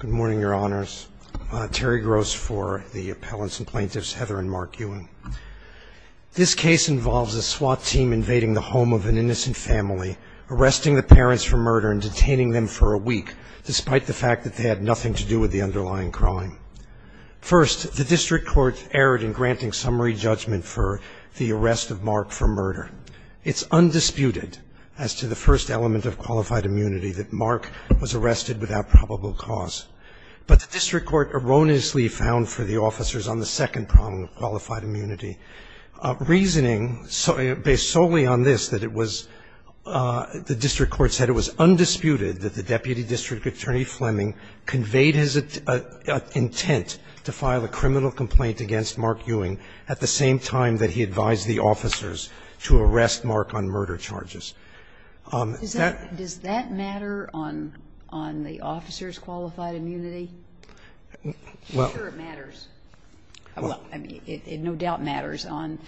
Good morning, Your Honors. Terry Gross for the appellants and plaintiffs, Heather and Mark Ewing. This case involves a SWAT team invading the home of an innocent family, arresting the parents for murder and detaining them for a week, despite the fact that they had nothing to do with the underlying crime. First, the district court erred in granting summary judgment for the arrest of Mark for murder. It's undisputed as to the first element of qualified immunity that Mark was arrested without probable cause. But the district court erroneously found for the officers on the second problem of qualified immunity, reasoning based solely on this, that it was the district court said it was undisputed that the deputy district attorney Fleming conveyed his intent to file a criminal complaint against Mark Ewing at the same time that he advised the officers to arrest Mark on murder charges. Does that matter on the officers' qualified immunity? I'm sure it matters. Well, I mean, it no doubt matters on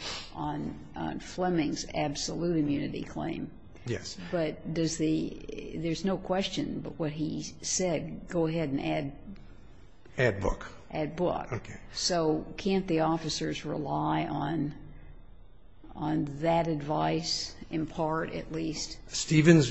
Fleming's absolute immunity claim. Yes. But does the – there's no question, but what he said, go ahead and add. Add book. Add book. Okay. So can't the officers rely on that advice, in part at least? Stevens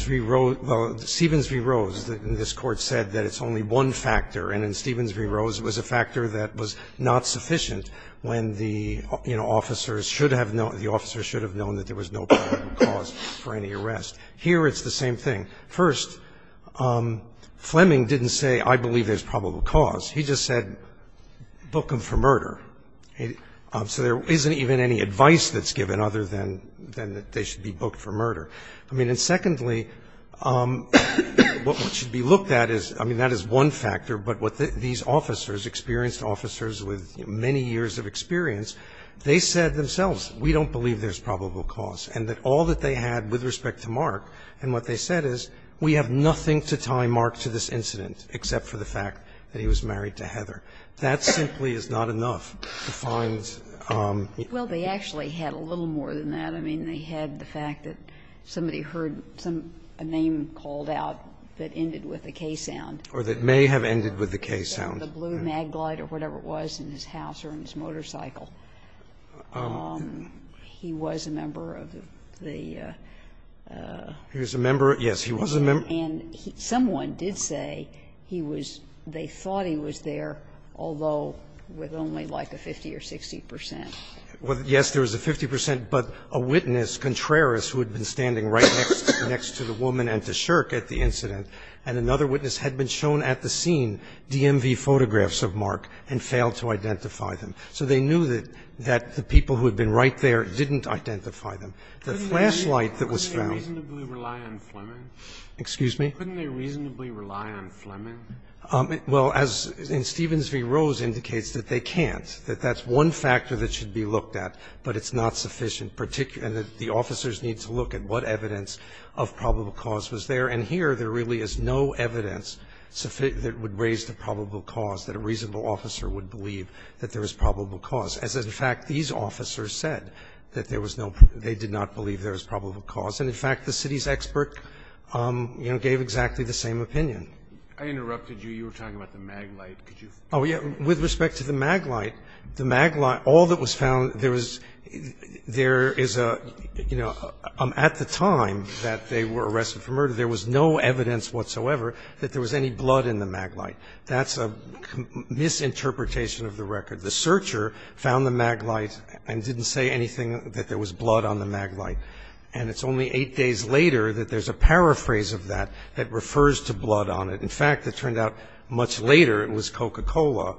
v. Rose, this Court said that it's only one factor, and in Stevens v. Rose it was a factor that was not sufficient when the, you know, officers should have known that there was no probable cause for any arrest. Here it's the same thing. First, Fleming didn't say I believe there's probable cause. He just said book them for murder. So there isn't even any advice that's given other than that they should be booked for murder. I mean, and secondly, what should be looked at is, I mean, that is one factor, but what these officers, experienced officers with many years of experience, they said themselves, we don't believe there's probable cause, and that all that they had with respect to Mark, and what they said is, we have nothing to tie Mark to this incident, except for the fact that he was married to Heather. That simply is not enough to find. Well, they actually had a little more than that. I mean, they had the fact that somebody heard some name called out that ended with a K sound. Or that may have ended with a K sound. The blue Maglite or whatever it was in his house or in his motorcycle. He was a member of the, the. He was a member. Yes, he was a member. And someone did say he was, they thought he was there, although with only like a 50 or 60 percent. Well, yes, there was a 50 percent, but a witness, Contreras, who had been standing right next to the woman and to Shirk at the incident, and another witness had been shown at the scene DMV photographs of Mark and failed to identify them. So they knew that the people who had been right there didn't identify them. The flashlight that was found. Could they reasonably rely on Fleming? Excuse me? Couldn't they reasonably rely on Fleming? Well, as in Stevens v. Rose indicates, that they can't. That that's one factor that should be looked at, but it's not sufficient, and the officers need to look at what evidence of probable cause was there. And here there really is no evidence that would raise the probable cause that a reasonable officer would believe that there is probable cause. As in fact, these officers said that there was no, they did not believe there was probable cause, and in fact, the city's expert, you know, gave exactly the same opinion. I interrupted you. You were talking about the Maglite. Could you? Oh, yeah. With respect to the Maglite, the Maglite, all that was found, there was, there is a, you know, at the time that they were arrested for murder, there was no evidence whatsoever that there was any blood in the Maglite. That's a misinterpretation of the record. The searcher found the Maglite and didn't say anything that there was blood on the Maglite. And it's only eight days later that there's a paraphrase of that that refers to blood on it. In fact, it turned out much later it was Coca-Cola.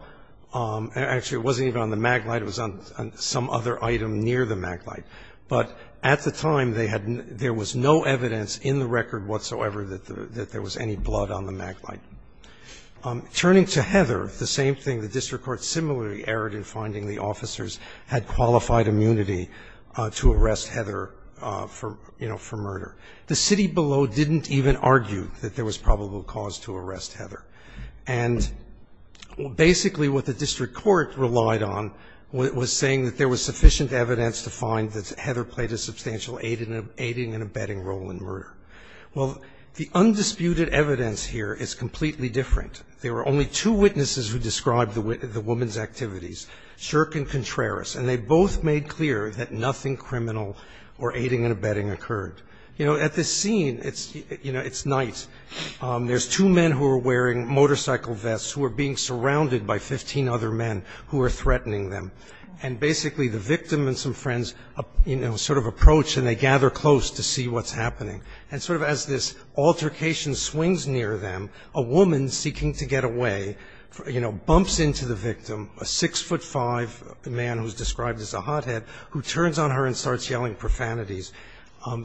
Actually, it wasn't even on the Maglite. It was on some other item near the Maglite. But at the time, they had, there was no evidence in the record whatsoever that there was any blood on the Maglite. Turning to Heather, the same thing, the district court similarly erred in finding the officers had qualified immunity to arrest Heather for, you know, for murder. The city below didn't even argue that there was probable cause to arrest Heather. And basically what the district court relied on was saying that there was sufficient evidence to find that Heather played a substantial aiding and abetting role in murder. Well, the undisputed evidence here is completely different. There were only two witnesses who described the woman's activities, Shirk and Contreras. And they both made clear that nothing criminal or aiding and abetting occurred. You know, at this scene, you know, it's night. There's two men who are wearing motorcycle vests who are being surrounded by 15 other men who are threatening them. And basically the victim and some friends, you know, sort of approach and they gather close to see what's happening. And sort of as this altercation swings near them, a woman seeking to get away, you know, bumps into the victim, a 6'5", a man who's described as a hothead, who turns on her and starts yelling profanities,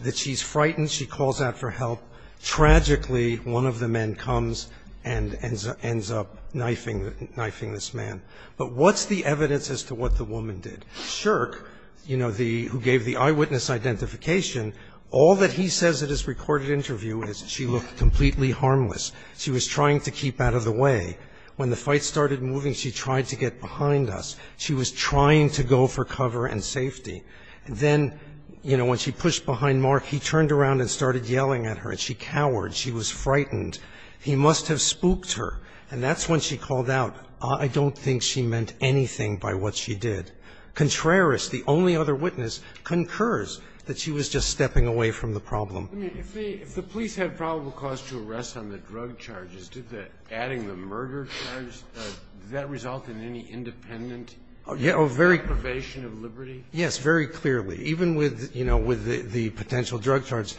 that she's frightened, she calls out for help. Tragically, one of the men comes and ends up knifing this man. But what's the evidence as to what the woman did? Shirk, you know, the one who gave the eyewitness identification, all that he says at his recorded interview is she looked completely harmless. She was trying to keep out of the way. When the fight started moving, she tried to get behind us. She was trying to go for cover and safety. Then, you know, when she pushed behind Mark, he turned around and started yelling at her, and she cowered. She was frightened. He must have spooked her. And that's when she called out, I don't think she meant anything by what she did. Contreras, the only other witness, concurs that she was just stepping away from the problem. Scalia. I mean, if the police had probable cause to arrest on the drug charges, did the adding the murder charge, did that result in any independent probation of liberty? Shirk. Yes, very clearly. Even with, you know, with the potential drug charge,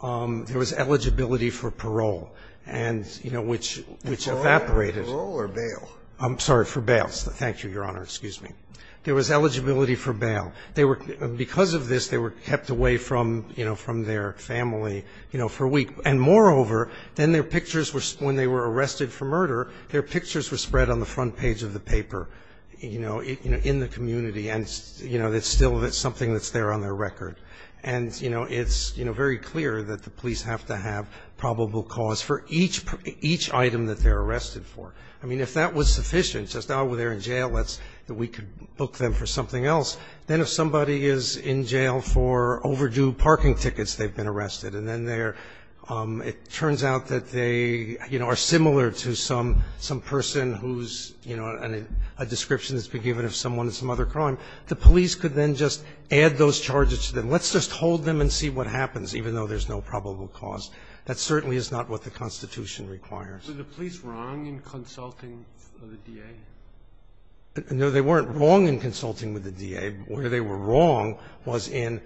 there was eligibility for parole and, you know, which evaporated. Scalia. Parole or bail? Shirk. I'm sorry, for bails. Thank you, Your Honor. Excuse me. There was eligibility for bail. They were, because of this, they were kept away from, you know, from their family, you know, for a week. And moreover, then their pictures were, when they were arrested for murder, their pictures were spread on the front page of the paper, you know, in the community. And, you know, it's still something that's there on their record. And, you know, it's, you know, very clear that the police have to have probable cause for each item that they're arrested for. I mean, if that was sufficient, just, oh, well, they're in jail, let's, that we could book them for something else, then if somebody is in jail for overdue parking tickets, they've been arrested, and then they're, it turns out that they, you know, are similar to some person who's, you know, a description has been given of someone in some other crime, the police could then just add those charges to them. Let's just hold them and see what happens, even though there's no probable cause. That certainly is not what the Constitution requires. Sotomayor, were the police wrong in consulting with the DA? Gershengorn No, they weren't wrong in consulting with the DA. Where they were wrong was in,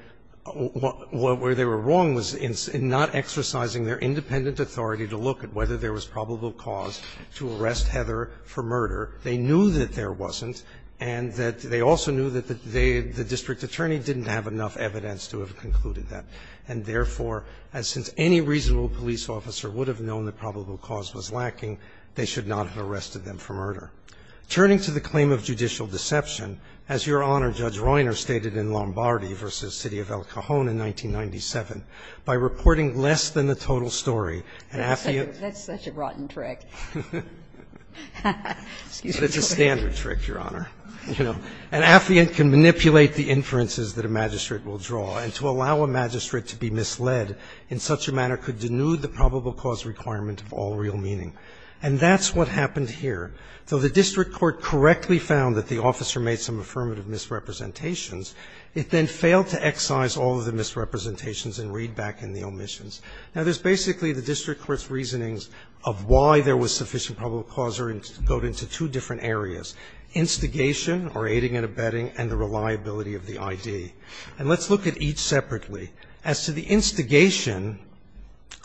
where they were wrong was in not exercising their independent authority to look at whether there was probable cause to arrest Heather for murder. They knew that there wasn't, and that they also knew that they, the district attorney, didn't have enough evidence to have concluded that. And therefore, as since any reasonable police officer would have known that probable cause was lacking, they should not have arrested them for murder. Turning to the claim of judicial deception, as Your Honor, Judge Reuner, stated in Lombardi v. City of El Cajon in 1997, by reporting less than the total story, an affluent. Ginsburg That's such a rotten trick. Gershengorn It's a standard trick, Your Honor. An affluent can manipulate the inferences that a magistrate will draw, and to allow a magistrate to be misled in such a manner could denude the probable cause requirement of all real meaning. And that's what happened here. Though the district court correctly found that the officer made some affirmative misrepresentations, it then failed to excise all of the misrepresentations and read back in the omissions. Now, there's basically the district court's reasonings of why there was sufficient probable cause go into two different areas, instigation, or aiding and abetting, and the reliability of the ID. And let's look at each separately. As to the instigation,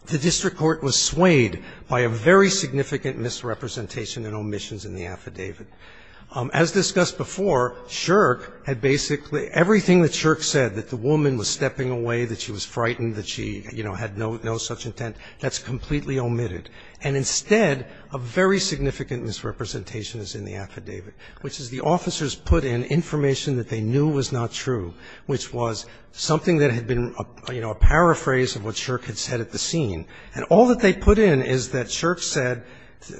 the district court was swayed by a very significant misrepresentation and omissions in the affidavit. As discussed before, Shirk had basically – everything that Shirk said, that the woman was stepping away, that she was frightened, that she, you know, had no such intent, that's completely omitted. And instead, a very significant misrepresentation is in the affidavit, which is the officers put in information that they knew was not true, which was something that had been, you know, a paraphrase of what Shirk had said at the scene. And all that they put in is that Shirk said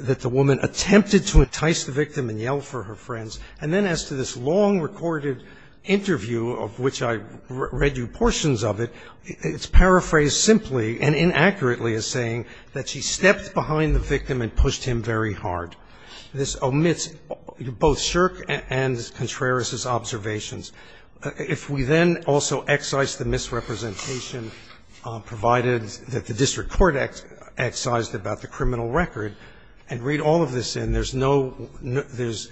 that the woman attempted to entice the victim and yell for her friends. And then as to this long recorded interview, of which I read you portions of it, it's paraphrased simply and inaccurately as saying that she stepped behind the victim and pushed him very hard. This omits both Shirk and Contreras' observations. If we then also excise the misrepresentation provided that the district court excised about the criminal record and read all of this in, there's no – there's,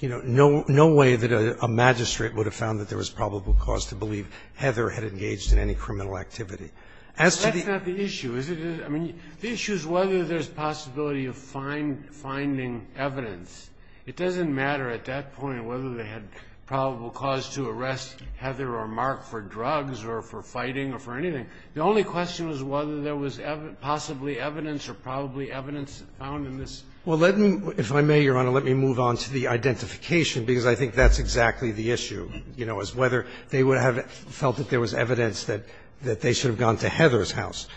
you know, no way that a magistrate would have found that there was probable cause to believe Heather had engaged in any criminal activity. As to the issue, is it – I mean, the issue is whether there's possibility of finding evidence. It doesn't matter at that point whether they had probable cause to arrest Heather or Mark for drugs or for fighting or for anything. The only question was whether there was possibly evidence or probably evidence found in this. Well, let me – if I may, Your Honor, let me move on to the identification, because I think that's exactly the issue, you know, is whether they would have felt that there was evidence that they should have gone to Heather's house.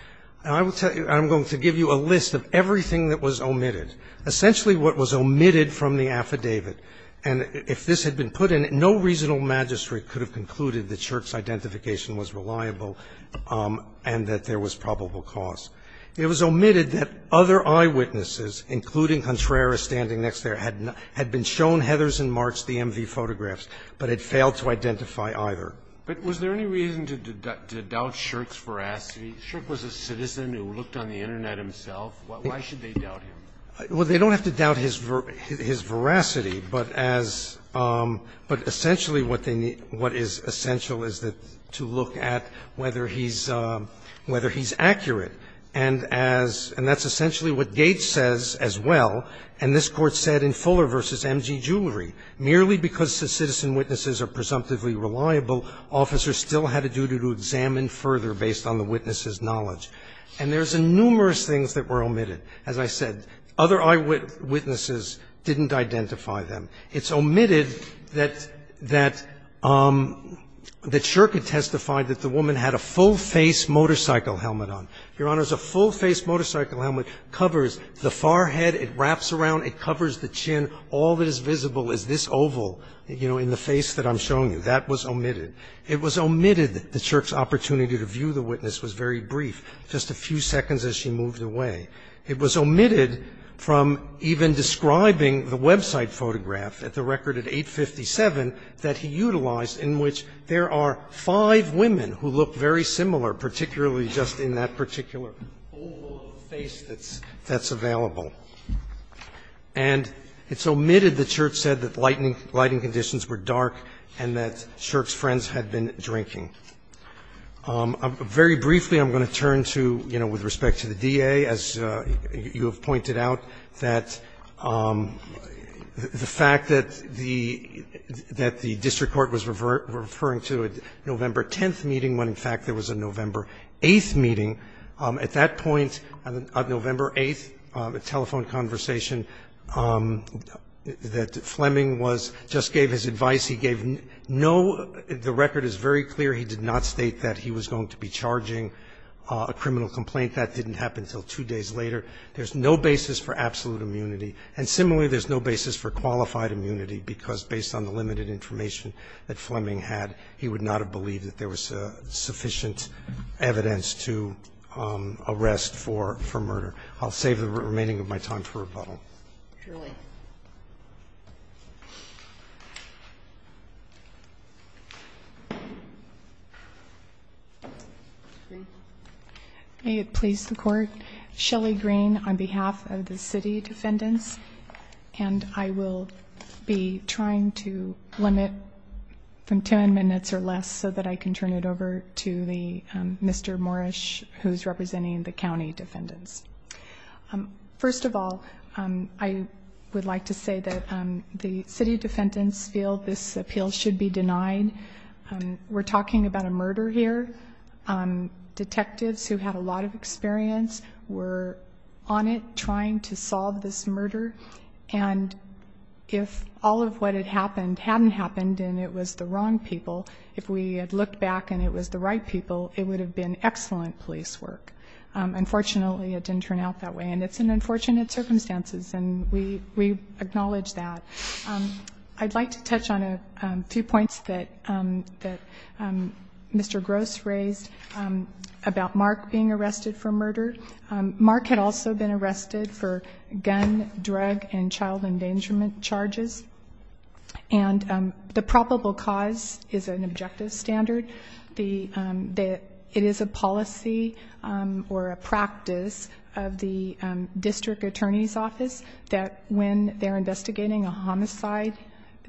And I will tell you – I'm going to give you a list of everything that was omitted. Essentially, what was omitted from the affidavit, and if this had been put in, no reasonable magistrate could have concluded that Shirk's identification was reliable and that there was probable cause. It was omitted that other eyewitnesses, including Contreras standing next there, had been shown Heather's and Mark's DMV photographs, but had failed to identify But was there any reason to doubt Shirk's veracity? Shirk was a citizen who looked on the Internet himself. Why should they doubt him? Well, they don't have to doubt his veracity, but as – but essentially what they need – what is essential is that – to look at whether he's – whether he's accurate. And as – and that's essentially what Gates says as well, and this Court said in Fuller v. M.G. Jewelry. Merely because the citizen witnesses are presumptively reliable, officers still had a duty to examine further based on the witness's knowledge. And there's numerous things that were omitted. As I said, other eyewitnesses didn't identify them. It's omitted that – that – that Shirk had testified that the woman had a full-face motorcycle helmet on. Your Honors, a full-face motorcycle helmet covers the forehead, it wraps around, it covers the chin. All that is visible is this oval, you know, in the face that I'm showing you. That was omitted. It was omitted that Shirk's opportunity to view the witness was very brief, just a few seconds as she moved away. It was omitted from even describing the website photograph at the record at 857 that he utilized in which there are five women who look very similar, particularly just in that particular oval of the face that's – that's available. And it's omitted that Shirk said that lightning – lighting conditions were dark and that Shirk's friends had been drinking. Very briefly, I'm going to turn to, you know, with respect to the DA, as you have pointed out, that the fact that the – that the district court was referring to a November 10th meeting when, in fact, there was a November 8th meeting. At that point, on November 8th, a telephone conversation that Fleming was – just gave his advice. He gave no – the record is very clear. He did not state that he was going to be charging a criminal complaint. That didn't happen until two days later. There's no basis for absolute immunity. And similarly, there's no basis for qualified immunity because, based on the limited information that Fleming had, he would not have believed that there was sufficient evidence to arrest for – for murder. I'll save the remaining of my time for rebuttal. Shirley. May it please the court. Shelly Green on behalf of the city defendants. And I will be trying to limit from 10 minutes or less so that I can turn it over to the – Mr. Moorish, who's representing the county defendants. First of all, I would like to say that the city defendants feel this appeal should be denied. We're talking about a murder here. Detectives who had a lot of experience were on it trying to solve this murder. And if all of what had happened hadn't happened and it was the wrong people, if we had looked back and it was the right people, it would have been excellent police work. Unfortunately, it didn't turn out that way. And it's in unfortunate circumstances, and we acknowledge that. I'd like to touch on a few points that Mr. Gross raised about Mark being arrested for murder. Mark had also been arrested for gun, drug, and child endangerment charges. And the probable cause is an objective standard. It is a policy or a practice of the district attorney's office that when they're investigating a homicide,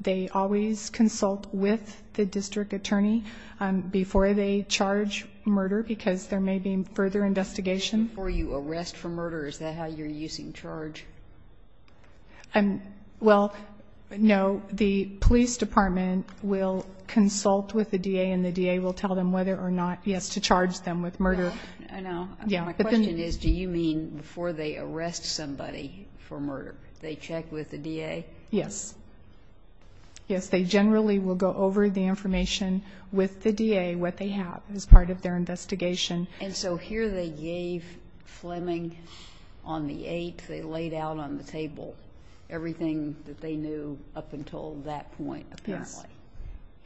they always consult with the district attorney before they charge murder because there may be further investigation. Before you arrest for murder, is that how you're using charge? Well, no. The police department will consult with the DA, and the DA will tell them whether or not, yes, to charge them with murder. My question is, do you mean before they arrest somebody for murder, they check with the DA? Yes. Yes, they generally will go over the information with the DA, what they have as part of their investigation. And so here they gave Fleming, on the 8th, they laid out on the table everything that they knew up until that point, apparently.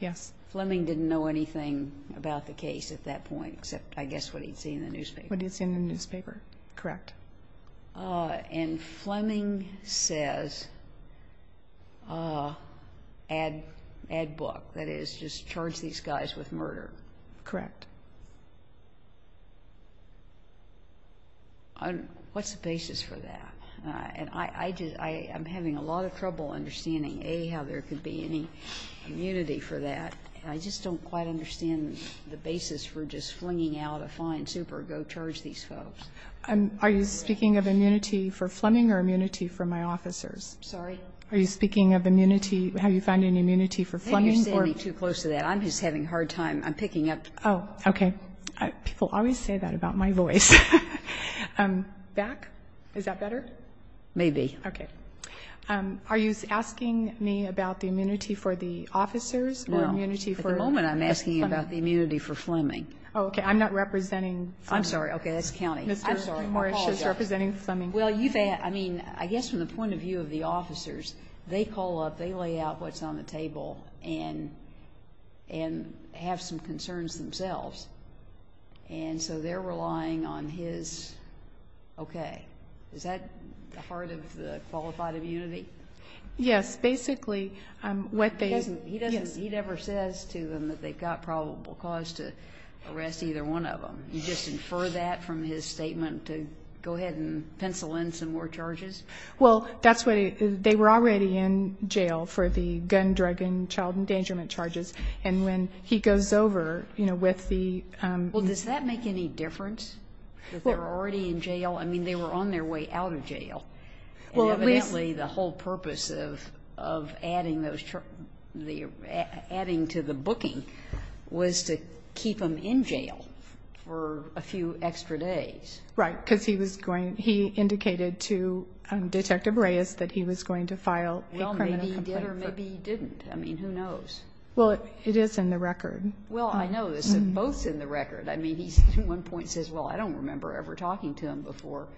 Yes. Fleming didn't know anything about the case at that point, except, I guess, what he'd see in the newspaper. What he'd see in the newspaper, correct. And Fleming says, add book. That is, just charge these guys with murder. Correct. What's the basis for that? And I'm having a lot of trouble understanding, A, how there could be any immunity for that, and I just don't quite understand the basis for just flinging out a fine super, go charge these folks. Are you speaking of immunity for Fleming or immunity for my officers? Sorry? Are you speaking of immunity, have you found any immunity for Fleming? You're getting too close to that. I'm just having a hard time. I'm picking up. Oh, okay. People always say that about my voice. Back? Is that better? Maybe. Okay. Are you asking me about the immunity for the officers or immunity for Fleming? No, at the moment, I'm asking you about the immunity for Fleming. Oh, okay. I'm not representing Fleming. I'm sorry, okay, that's county. I'm sorry, I apologize. Mr. Morris is representing Fleming. Well, you say, I mean, I guess from the point of view of the officers, they call up, they lay out what's on the table and have some concerns themselves. And so they're relying on his, okay. Is that the heart of the qualified immunity? Yes, basically, what they- He doesn't, he never says to them that they've got probable cause to arrest either one of them. You just infer that from his statement to go ahead and pencil in some more charges? Well, that's what, they were already in jail for the gun, drug, and child endangerment charges. And when he goes over, you know, with the- Well, does that make any difference? That they were already in jail? I mean, they were on their way out of jail. Well, at least- And evidently, the whole purpose of adding to the booking was to keep them in jail for a few extra days. Right, because he was going, he indicated to Detective Reyes that he was going to file a criminal complaint. Well, maybe he did or maybe he didn't. I mean, who knows? Well, it is in the record. Well, I know this. It's both in the record. I mean, he at one point says, well, I don't remember ever talking to him before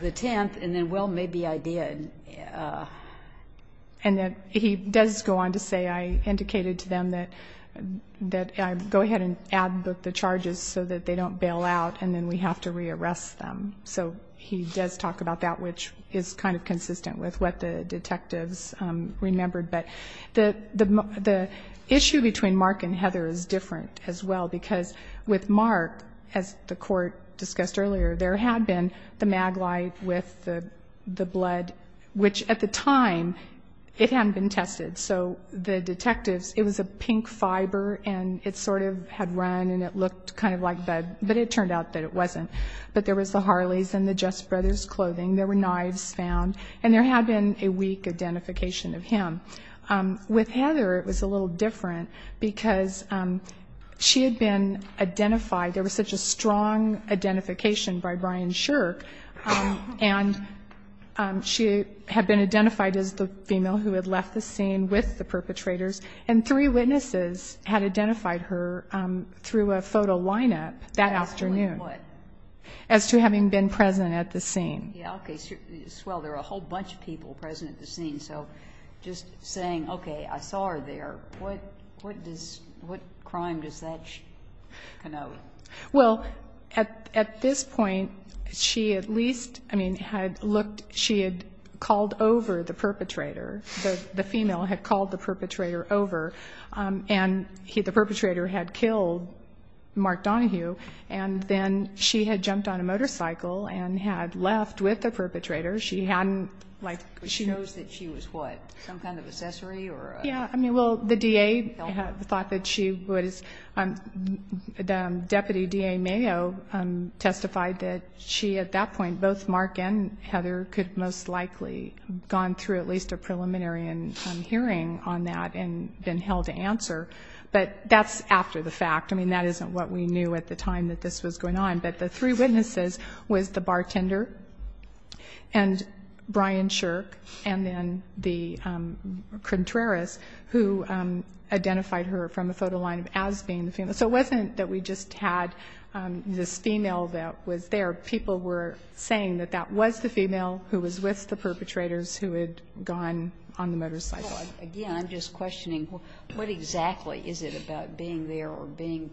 the 10th. And then, well, maybe I did. And then he does go on to say, I indicated to them that I'd go ahead and add the charges so that they don't bail out and then we have to re-arrest them. So he does talk about that, which is kind of consistent with what the detectives remembered. But the issue between Mark and Heather is different as well because with Mark, as the court discussed earlier, there had been the maglite with the blood, which at the time, it hadn't been tested. So the detectives, it was a pink fiber and it sort of had run and it looked kind of like blood. But it turned out that it wasn't. But there was the Harleys and the Just Brothers clothing. There were knives found. And there had been a weak identification of him. With Heather, it was a little different because she had been identified. There was such a strong identification by Brian Shirk. And she had been identified as the female who had left the scene with the perpetrators. And three witnesses had identified her through a photo lineup that afternoon. As to what? As to having been present at the scene. Yeah, okay. Well, there were a whole bunch of people present at the scene. So just saying, okay, I saw her there, what crime does that connote? Well, at this point, she at least, I mean, had looked. She had called over the perpetrator. The female had called the perpetrator over. And the perpetrator had killed Mark Donohue. And then she had jumped on a motorcycle and had left with the perpetrator. She hadn't, like. But she knows that she was what? Some kind of accessory or? Yeah, I mean, well, the DA thought that she was. Deputy DA Mayo testified that she at that point, both Mark and Heather, could most likely have gone through at least a preliminary hearing on that and been held to answer. But that's after the fact. I mean, that isn't what we knew at the time that this was going on. But the three witnesses was the bartender and Brian Shirk and then the contrarist who identified her from a photo line as being the female. So it wasn't that we just had this female that was there. People were saying that that was the female who was with the perpetrators who had gone on the motorcycle. Again, I'm just questioning, what exactly is it about being there or being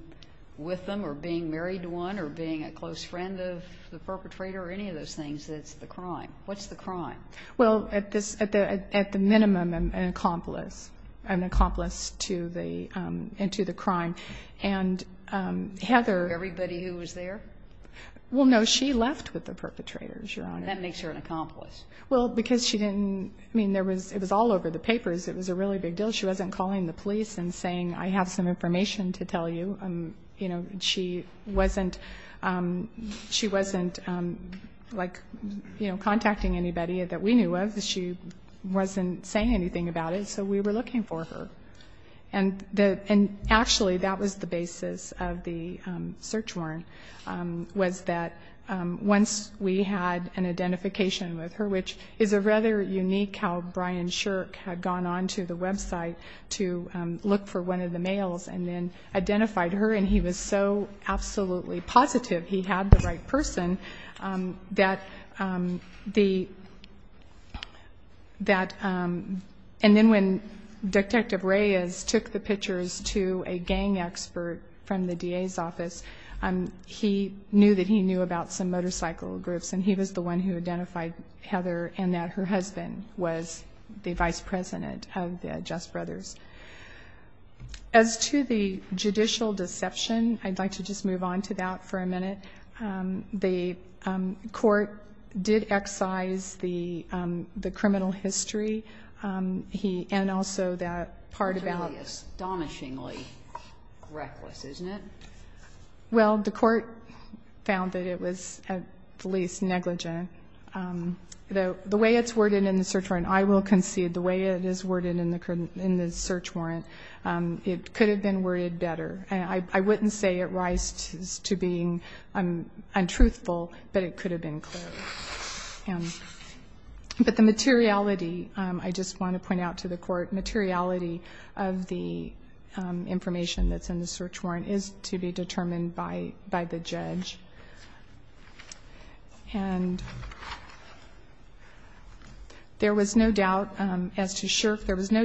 with them or being married to one or being a close friend of the perpetrator or any of those things that's the crime? What's the crime? Well, at the minimum, an accomplice to the crime. And Heather... Everybody who was there? Well, no, she left with the perpetrators, Your Honor. That makes her an accomplice. Well, because she didn't, I mean, it was all over the papers. It was a really big deal. She wasn't calling the police and saying, I have some information to tell you. You know, she wasn't, like, you know, contacting anybody that we knew of. She wasn't saying anything about it. So we were looking for her. And actually, that was the basis of the search warrant, was that once we had an identification with her, which is a rather unique how Brian Shirk had gone on to the website to look for one of the males and then identified her. And he was so absolutely positive he had the right person that the... And then when Detective Reyes took the pictures to a gang expert from the DA's office, he knew that he knew about some motorcycle groups. And he was the one who identified Heather and that her husband was the vice president of the Just Brothers. As to the judicial deception, I'd like to just move on to that for a minute. The court did excise the criminal history. And also that part about... Totally astonishingly reckless, isn't it? Well, the court found that it was at least negligent. The way it's worded in the search warrant, I will concede, the way it is worded in the search warrant, it could have been worded better. I wouldn't say it rises to being untruthful, but it could have been clear. But the materiality, I just want to point out to the court, materiality of the information that's in the search warrant is to be determined by the judge. And there was no doubt, as to Shirk, there was no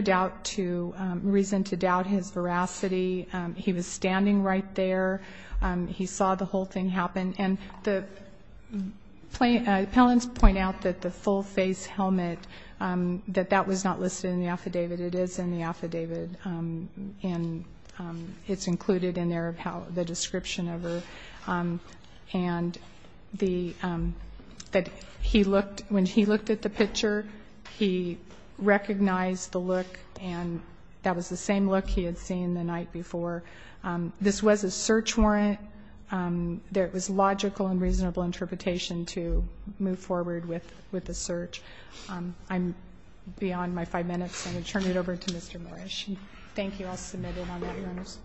reason to doubt his veracity. He was standing right there. He saw the whole thing happen. And the appellants point out that the full-face helmet, that that was not listed in the affidavit. It is in the affidavit. And it's included in there, the description of her. And the, that he looked, when he looked at the picture, he recognized the look, and that was the same look he had seen the night before. This was a search warrant. There was logical and reasonable interpretation to move forward with the search. I'm beyond my five minutes. I'm going to turn it over to Mr. Morish. Thank you. I'll submit it on that notice.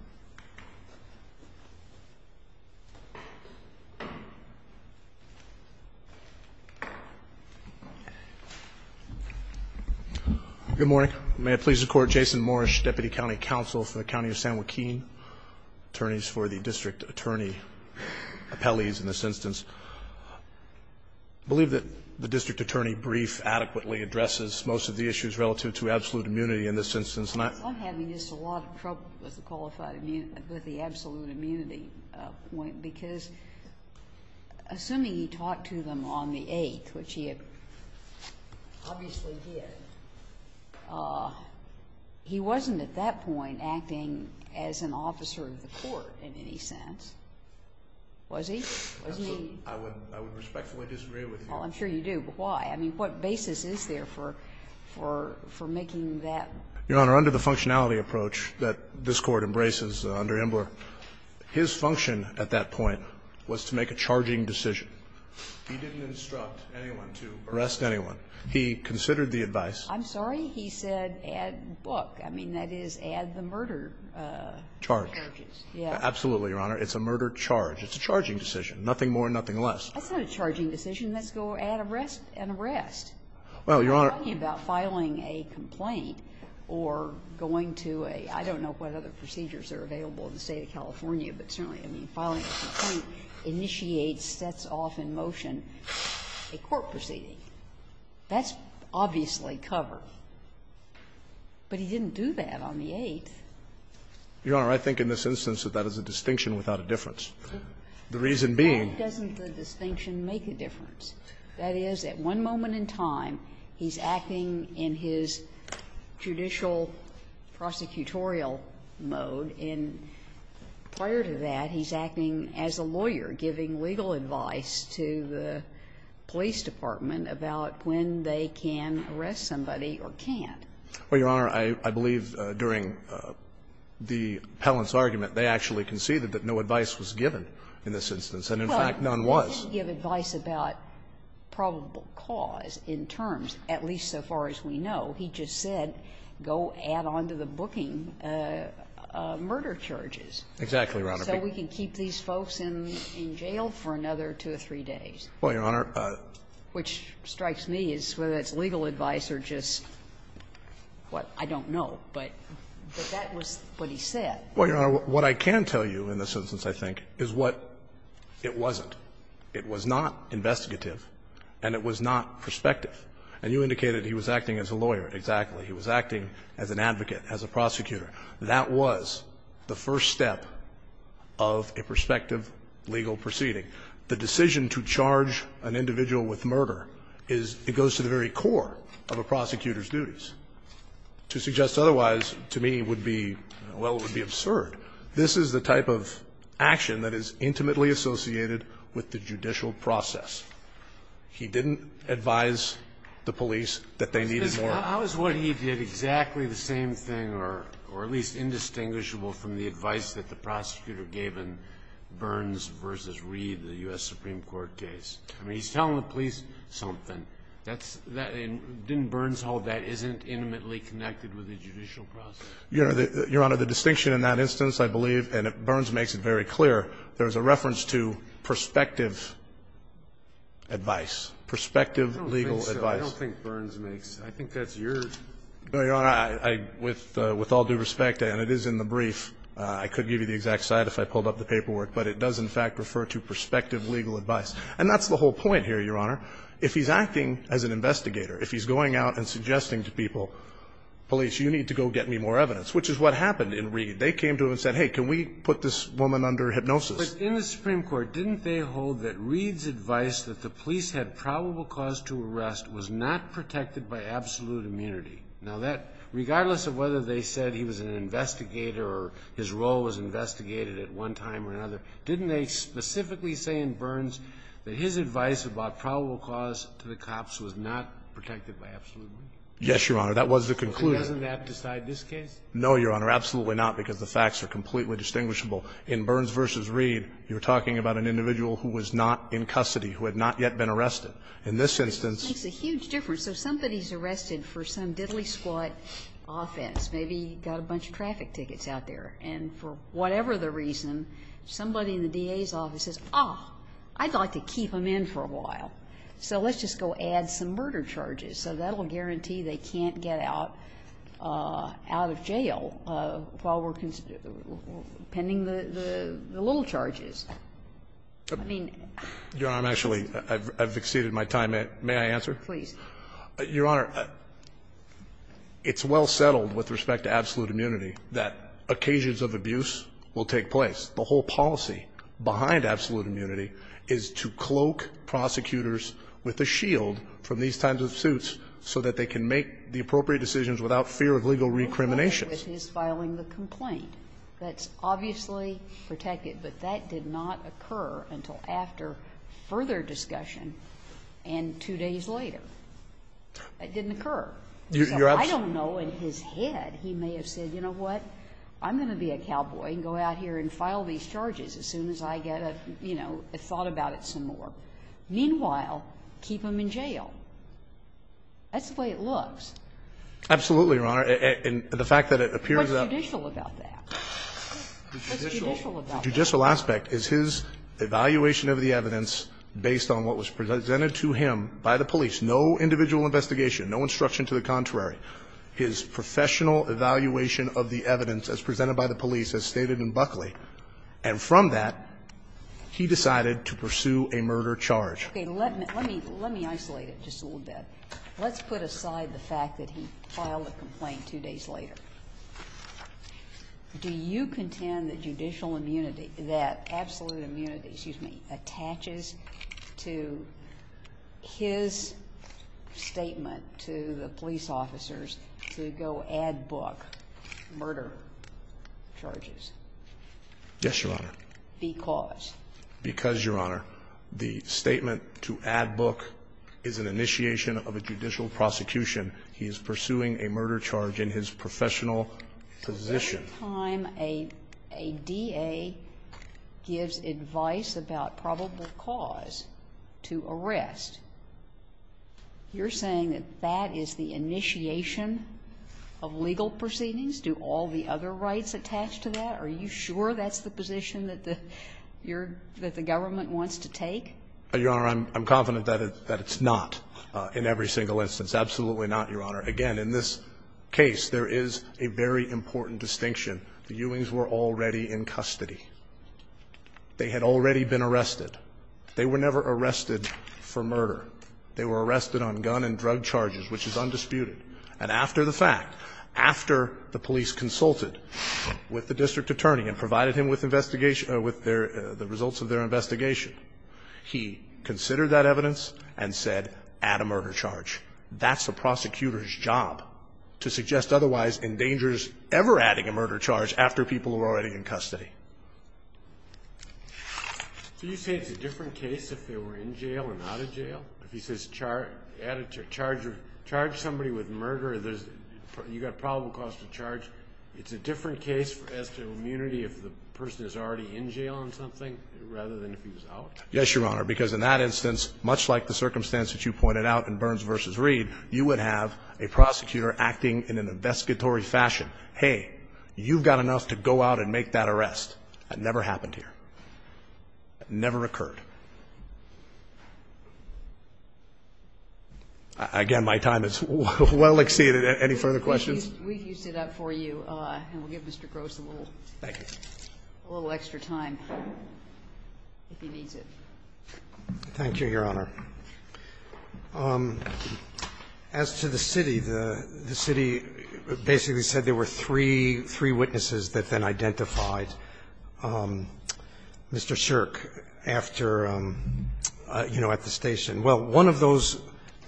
Good morning. May it please the Court. Jason Morish, Deputy County Counsel for the County of San Joaquin. Attorneys for the district attorney appellees in this instance. I believe that the district attorney brief adequately addresses most of the issues relative to absolute immunity in this instance. I'm having just a lot of trouble with the qualified immunity, with the absolute immunity point, because assuming he talked to them on the 8th, which he had obviously did, he wasn't at that point acting as an officer of the court in any sense. Was he? Was he? I would respectfully disagree with you. Well, I'm sure you do. But why? I mean, what basis is there for making that? Your Honor, under the functionality approach that this Court embraces under Embler, his function at that point was to make a charging decision. He didn't instruct anyone to arrest anyone. He considered the advice. I'm sorry. He said add book. I mean, that is add the murder charges. Charge. Yes. Absolutely, Your Honor. It's a murder charge. It's a charging decision. That's not a charging decision. That's go add arrest and arrest. Well, Your Honor. I'm talking about filing a complaint or going to a, I don't know what other procedures are available in the State of California, but certainly, I mean, filing a complaint initiates, sets off in motion a court proceeding. That's obviously covered. But he didn't do that on the 8th. Your Honor, I think in this instance that that is a distinction without a difference. The reason being. Why doesn't the distinction make a difference? That is, at one moment in time, he's acting in his judicial prosecutorial mode, and prior to that, he's acting as a lawyer, giving legal advice to the police department about when they can arrest somebody or can't. Well, Your Honor, I believe during the Pellants argument, they actually conceded that no advice was given in this instance. And in fact, none was. He didn't give advice about probable cause in terms, at least so far as we know. He just said, go add on to the booking murder charges. Exactly, Your Honor. So we can keep these folks in jail for another two or three days. Well, Your Honor. Which strikes me as whether it's legal advice or just, well, I don't know. But that was what he said. Well, Your Honor, what I can tell you in this instance, I think, is what it wasn't. It was not investigative and it was not prospective. And you indicated he was acting as a lawyer. Exactly. He was acting as an advocate, as a prosecutor. That was the first step of a prospective legal proceeding. The decision to charge an individual with murder is, it goes to the very core of a prosecutor's duties. To suggest otherwise, to me, would be, well, it would be absurd. This is the type of action that is intimately associated with the judicial process. He didn't advise the police that they needed more. How is what he did exactly the same thing or at least indistinguishable from the advice that the prosecutor gave in Burns v. Reed, the U.S. Supreme Court case? I mean, he's telling the police something. That's that in Burns Hall, that isn't intimately connected with the judicial process. Your Honor, the distinction in that instance, I believe, and Burns makes it very clear, there is a reference to prospective advice, prospective legal advice. I don't think so. I don't think Burns makes. I think that's yours. No, Your Honor. With all due respect, and it is in the brief, I could give you the exact site if I pulled up the paperwork, but it does, in fact, refer to prospective legal advice. And that's the whole point here, Your Honor. If he's acting as an investigator, if he's going out and suggesting to people, police, you need to go get me more evidence, which is what happened in Reed. They came to him and said, hey, can we put this woman under hypnosis? But in the Supreme Court, didn't they hold that Reed's advice that the police had probable cause to arrest was not protected by absolute immunity? Now, that, regardless of whether they said he was an investigator or his role was investigated at one time or another, didn't they specifically say in Burns that his advice about probable cause to the cops was not protected by absolute immunity? Yes, Your Honor. That was the conclusion. Doesn't that decide this case? No, Your Honor. Absolutely not, because the facts are completely distinguishable. In Burns v. Reed, you're talking about an individual who was not in custody, who had not yet been arrested. In this instance. It makes a huge difference. So somebody's arrested for some diddly-squat offense. Maybe he got a bunch of traffic tickets out there. And for whatever the reason, somebody in the DA's office says, oh, I'd like to keep him in for a while, so let's just go add some murder charges. So that will guarantee they can't get out of jail while we're pending the little charges. I mean. Your Honor, I'm actually, I've exceeded my time. May I answer? Please. Your Honor, it's well settled with respect to absolute immunity that occasions of abuse will take place. The whole policy behind absolute immunity is to cloak prosecutors with a shield from these kinds of suits so that they can make the appropriate decisions without fear of legal recrimination. I'm okay with his filing the complaint. That's obviously protected. But that did not occur until after further discussion and two days later. It didn't occur. I don't know in his head he may have said, you know what, I'm going to be a cowboy and go out here and file these charges as soon as I get a, you know, a thought about it some more. Meanwhile, keep him in jail. That's the way it looks. Absolutely, Your Honor. And the fact that it appears that. What's judicial about that? The judicial aspect is his evaluation of the evidence based on what was presented to him by the police. No individual investigation. No instruction to the contrary. His professional evaluation of the evidence as presented by the police as stated in Buckley. And from that, he decided to pursue a murder charge. Okay. Let me isolate it just a little bit. Let's put aside the fact that he filed a complaint two days later. Do you contend that judicial immunity, that absolute immunity, excuse me, attaches to his statement to the police officers to go add Buck murder charges? Yes, Your Honor. Because? Because, Your Honor, the statement to add Buck is an initiation of a judicial prosecution. He is pursuing a murder charge in his professional position. Every time a DA gives advice about probable cause to arrest, you're saying that that is the initiation of legal proceedings? Do all the other rights attach to that? Are you sure that's the position that the government wants to take? Your Honor, I'm confident that it's not in every single instance. Absolutely not, Your Honor. Again, in this case, there is a very important distinction. The Ewings were already in custody. They had already been arrested. They were never arrested for murder. They were arrested on gun and drug charges, which is undisputed. And after the fact, after the police consulted with the district attorney and provided him with investigation, with the results of their investigation, he considered that evidence and said, add a murder charge. That's the prosecutor's job, to suggest otherwise endangers ever adding a murder charge after people who are already in custody. Do you say it's a different case if they were in jail and out of jail? If he says charge somebody with murder, you've got probable cause to charge. It's a different case as to immunity if the person is already in jail on something rather than if he was out? Yes, Your Honor, because in that instance, much like the circumstance that you pointed out in Burns v. Reed, you would have a prosecutor acting in an investigatory fashion. Hey, you've got enough to go out and make that arrest. That never happened here. That never occurred. Again, my time is well exceeded. Any further questions? We've used it up for you, and we'll give Mr. Gross a little extra time if he needs it. Thank you, Your Honor. As to the city, the city basically said there were three witnesses that then identified Mr. Shirk after, you know, at the station. Well, one of those,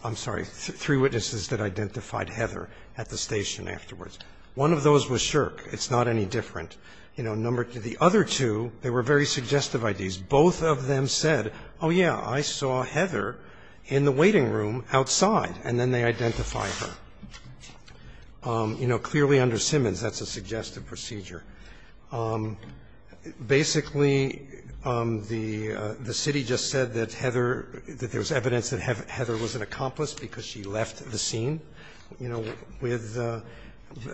I'm sorry, three witnesses that identified Heather at the station afterwards. One of those was Shirk. It's not any different. You know, the other two, they were very suggestive ideas. Both of them said, oh, yeah, I saw Heather in the waiting room outside, and then they identified her. You know, clearly under Simmons, that's a suggestive procedure. Basically, the city just said that Heather, that there's evidence that Heather was an accomplice because she left the scene. You know, with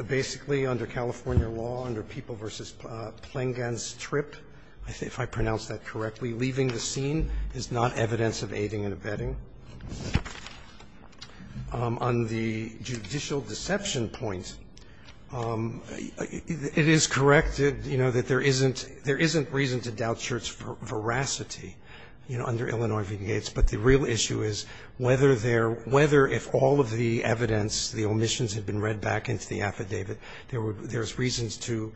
basically under California law, under People v. Plengan's trip, if I pronounce that correctly, leaving the scene is not evidence of aiding and abetting. Now, on the judicial deception point, it is corrected, you know, that there isn't reason to doubt Shirk's veracity, you know, under Illinois v. Gates. But the real issue is whether if all of the evidence, the omissions had been read back into the affidavit, there's reasons to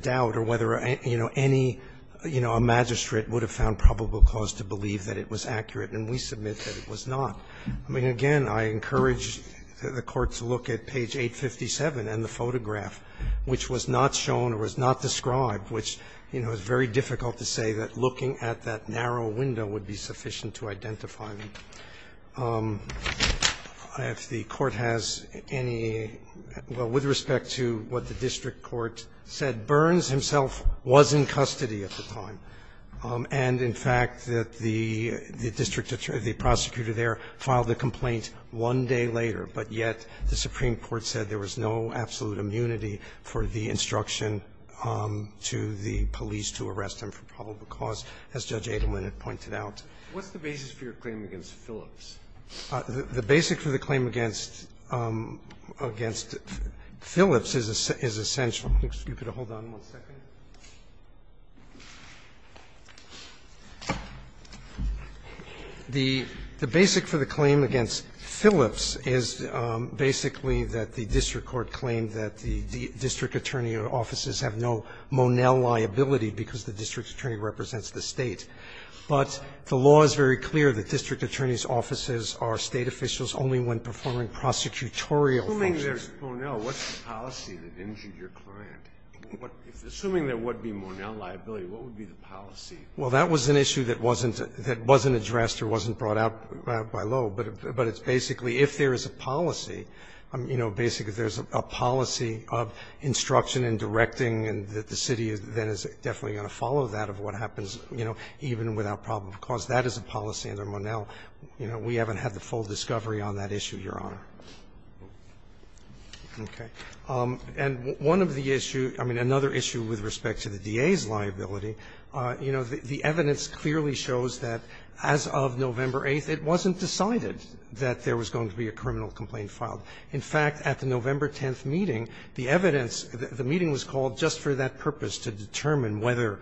doubt or whether, you know, any magistrate would have found probable cause to believe that it was accurate. And we submit that it was not. I mean, again, I encourage the Court to look at page 857 and the photograph, which was not shown or was not described, which, you know, it's very difficult to say that looking at that narrow window would be sufficient to identify them. If the Court has any, well, with respect to what the district court said, Burns himself was in custody at the time. And, in fact, that the district attorney, the prosecutor there, filed a complaint one day later, but yet the Supreme Court said there was no absolute immunity for the instruction to the police to arrest him for probable cause, as Judge Edelman had pointed out. The basic for the claim against Phillips is essential. You could hold on one second. The basic for the claim against Phillips is basically that the district court claimed that the district attorney offices have no Monell liability because the district attorney represents the State. But the law is very clear that district attorney's offices are State officials only when performing prosecutorial functions. Scalia. Assuming there's Monell, what's the policy that injured your client? Assuming there would be Monell liability, what would be the policy? Well, that was an issue that wasn't addressed or wasn't brought out by law. But it's basically, if there is a policy, you know, basically there's a policy of instruction and directing, and the city then is definitely going to follow that of what happens, you know, even without probable cause. That is a policy under Monell. You know, we haven't had the full discovery on that issue, Your Honor. Okay. And one of the issues, I mean, another issue with respect to the DA's liability, you know, the evidence clearly shows that as of November 8th, it wasn't decided that there was going to be a criminal complaint filed. In fact, at the November 10th meeting, the evidence, the meeting was called just for that purpose, to determine whether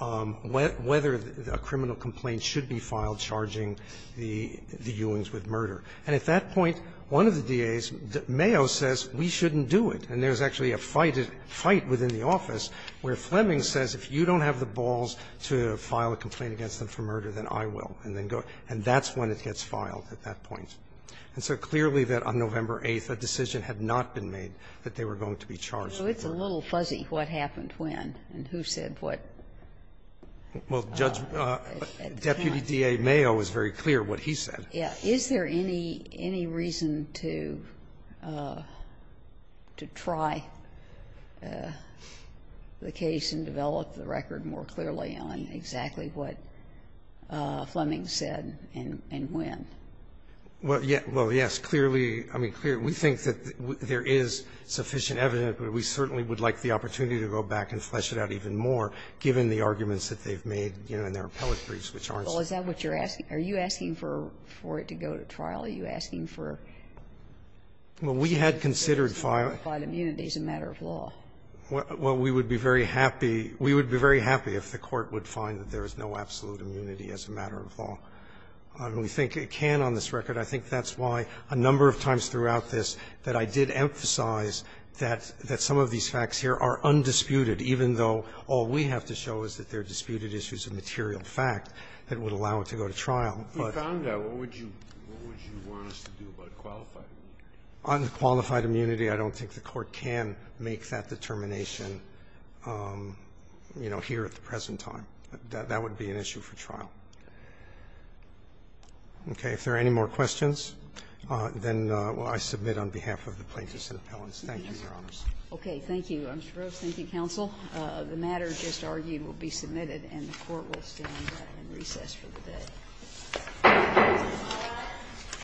a criminal complaint should be filed charging the Ewings with murder. And at that point, one of the DAs, Mayo, says, we shouldn't do it. And there's actually a fight within the office where Fleming says, if you don't have the balls to file a complaint against them for murder, then I will, and then go. And that's when it gets filed at that point. And so clearly that on November 8th, a decision had not been made that they were going to be charged with murder. Well, it's a little fuzzy what happened when and who said what. Well, Judge, Deputy DA Mayo was very clear what he said. Yeah. Is there any reason to try the case and develop the record more clearly on exactly what Fleming said and when? Well, yes. Clearly, I mean, we think that there is sufficient evidence, but we certainly would like the opportunity to go back and flesh it out even more, given the arguments that they've made in their appellate briefs, which aren't so clear. Well, is that what you're asking? Are you asking for it to go to trial? Are you asking for it to go to trial? Well, we had considered filing. So it's not a matter of immunity, it's a matter of law. Well, we would be very happy we would be very happy if the Court would find that there is no absolute immunity as a matter of law. We think it can on this record. I think that's why a number of times throughout this that I did emphasize that some of these facts here are undisputed, even though all we have to show is that they're We found that. What would you want us to do about qualified immunity? On qualified immunity, I don't think the Court can make that determination, you know, here at the present time. That would be an issue for trial. Okay. If there are any more questions, then I submit on behalf of the plaintiffs and appellants. Thank you, Your Honor. Okay. Thank you, Mr. Brooks. Thank you, counsel. The matter just argued will be submitted and the Court will stand in recess for the day.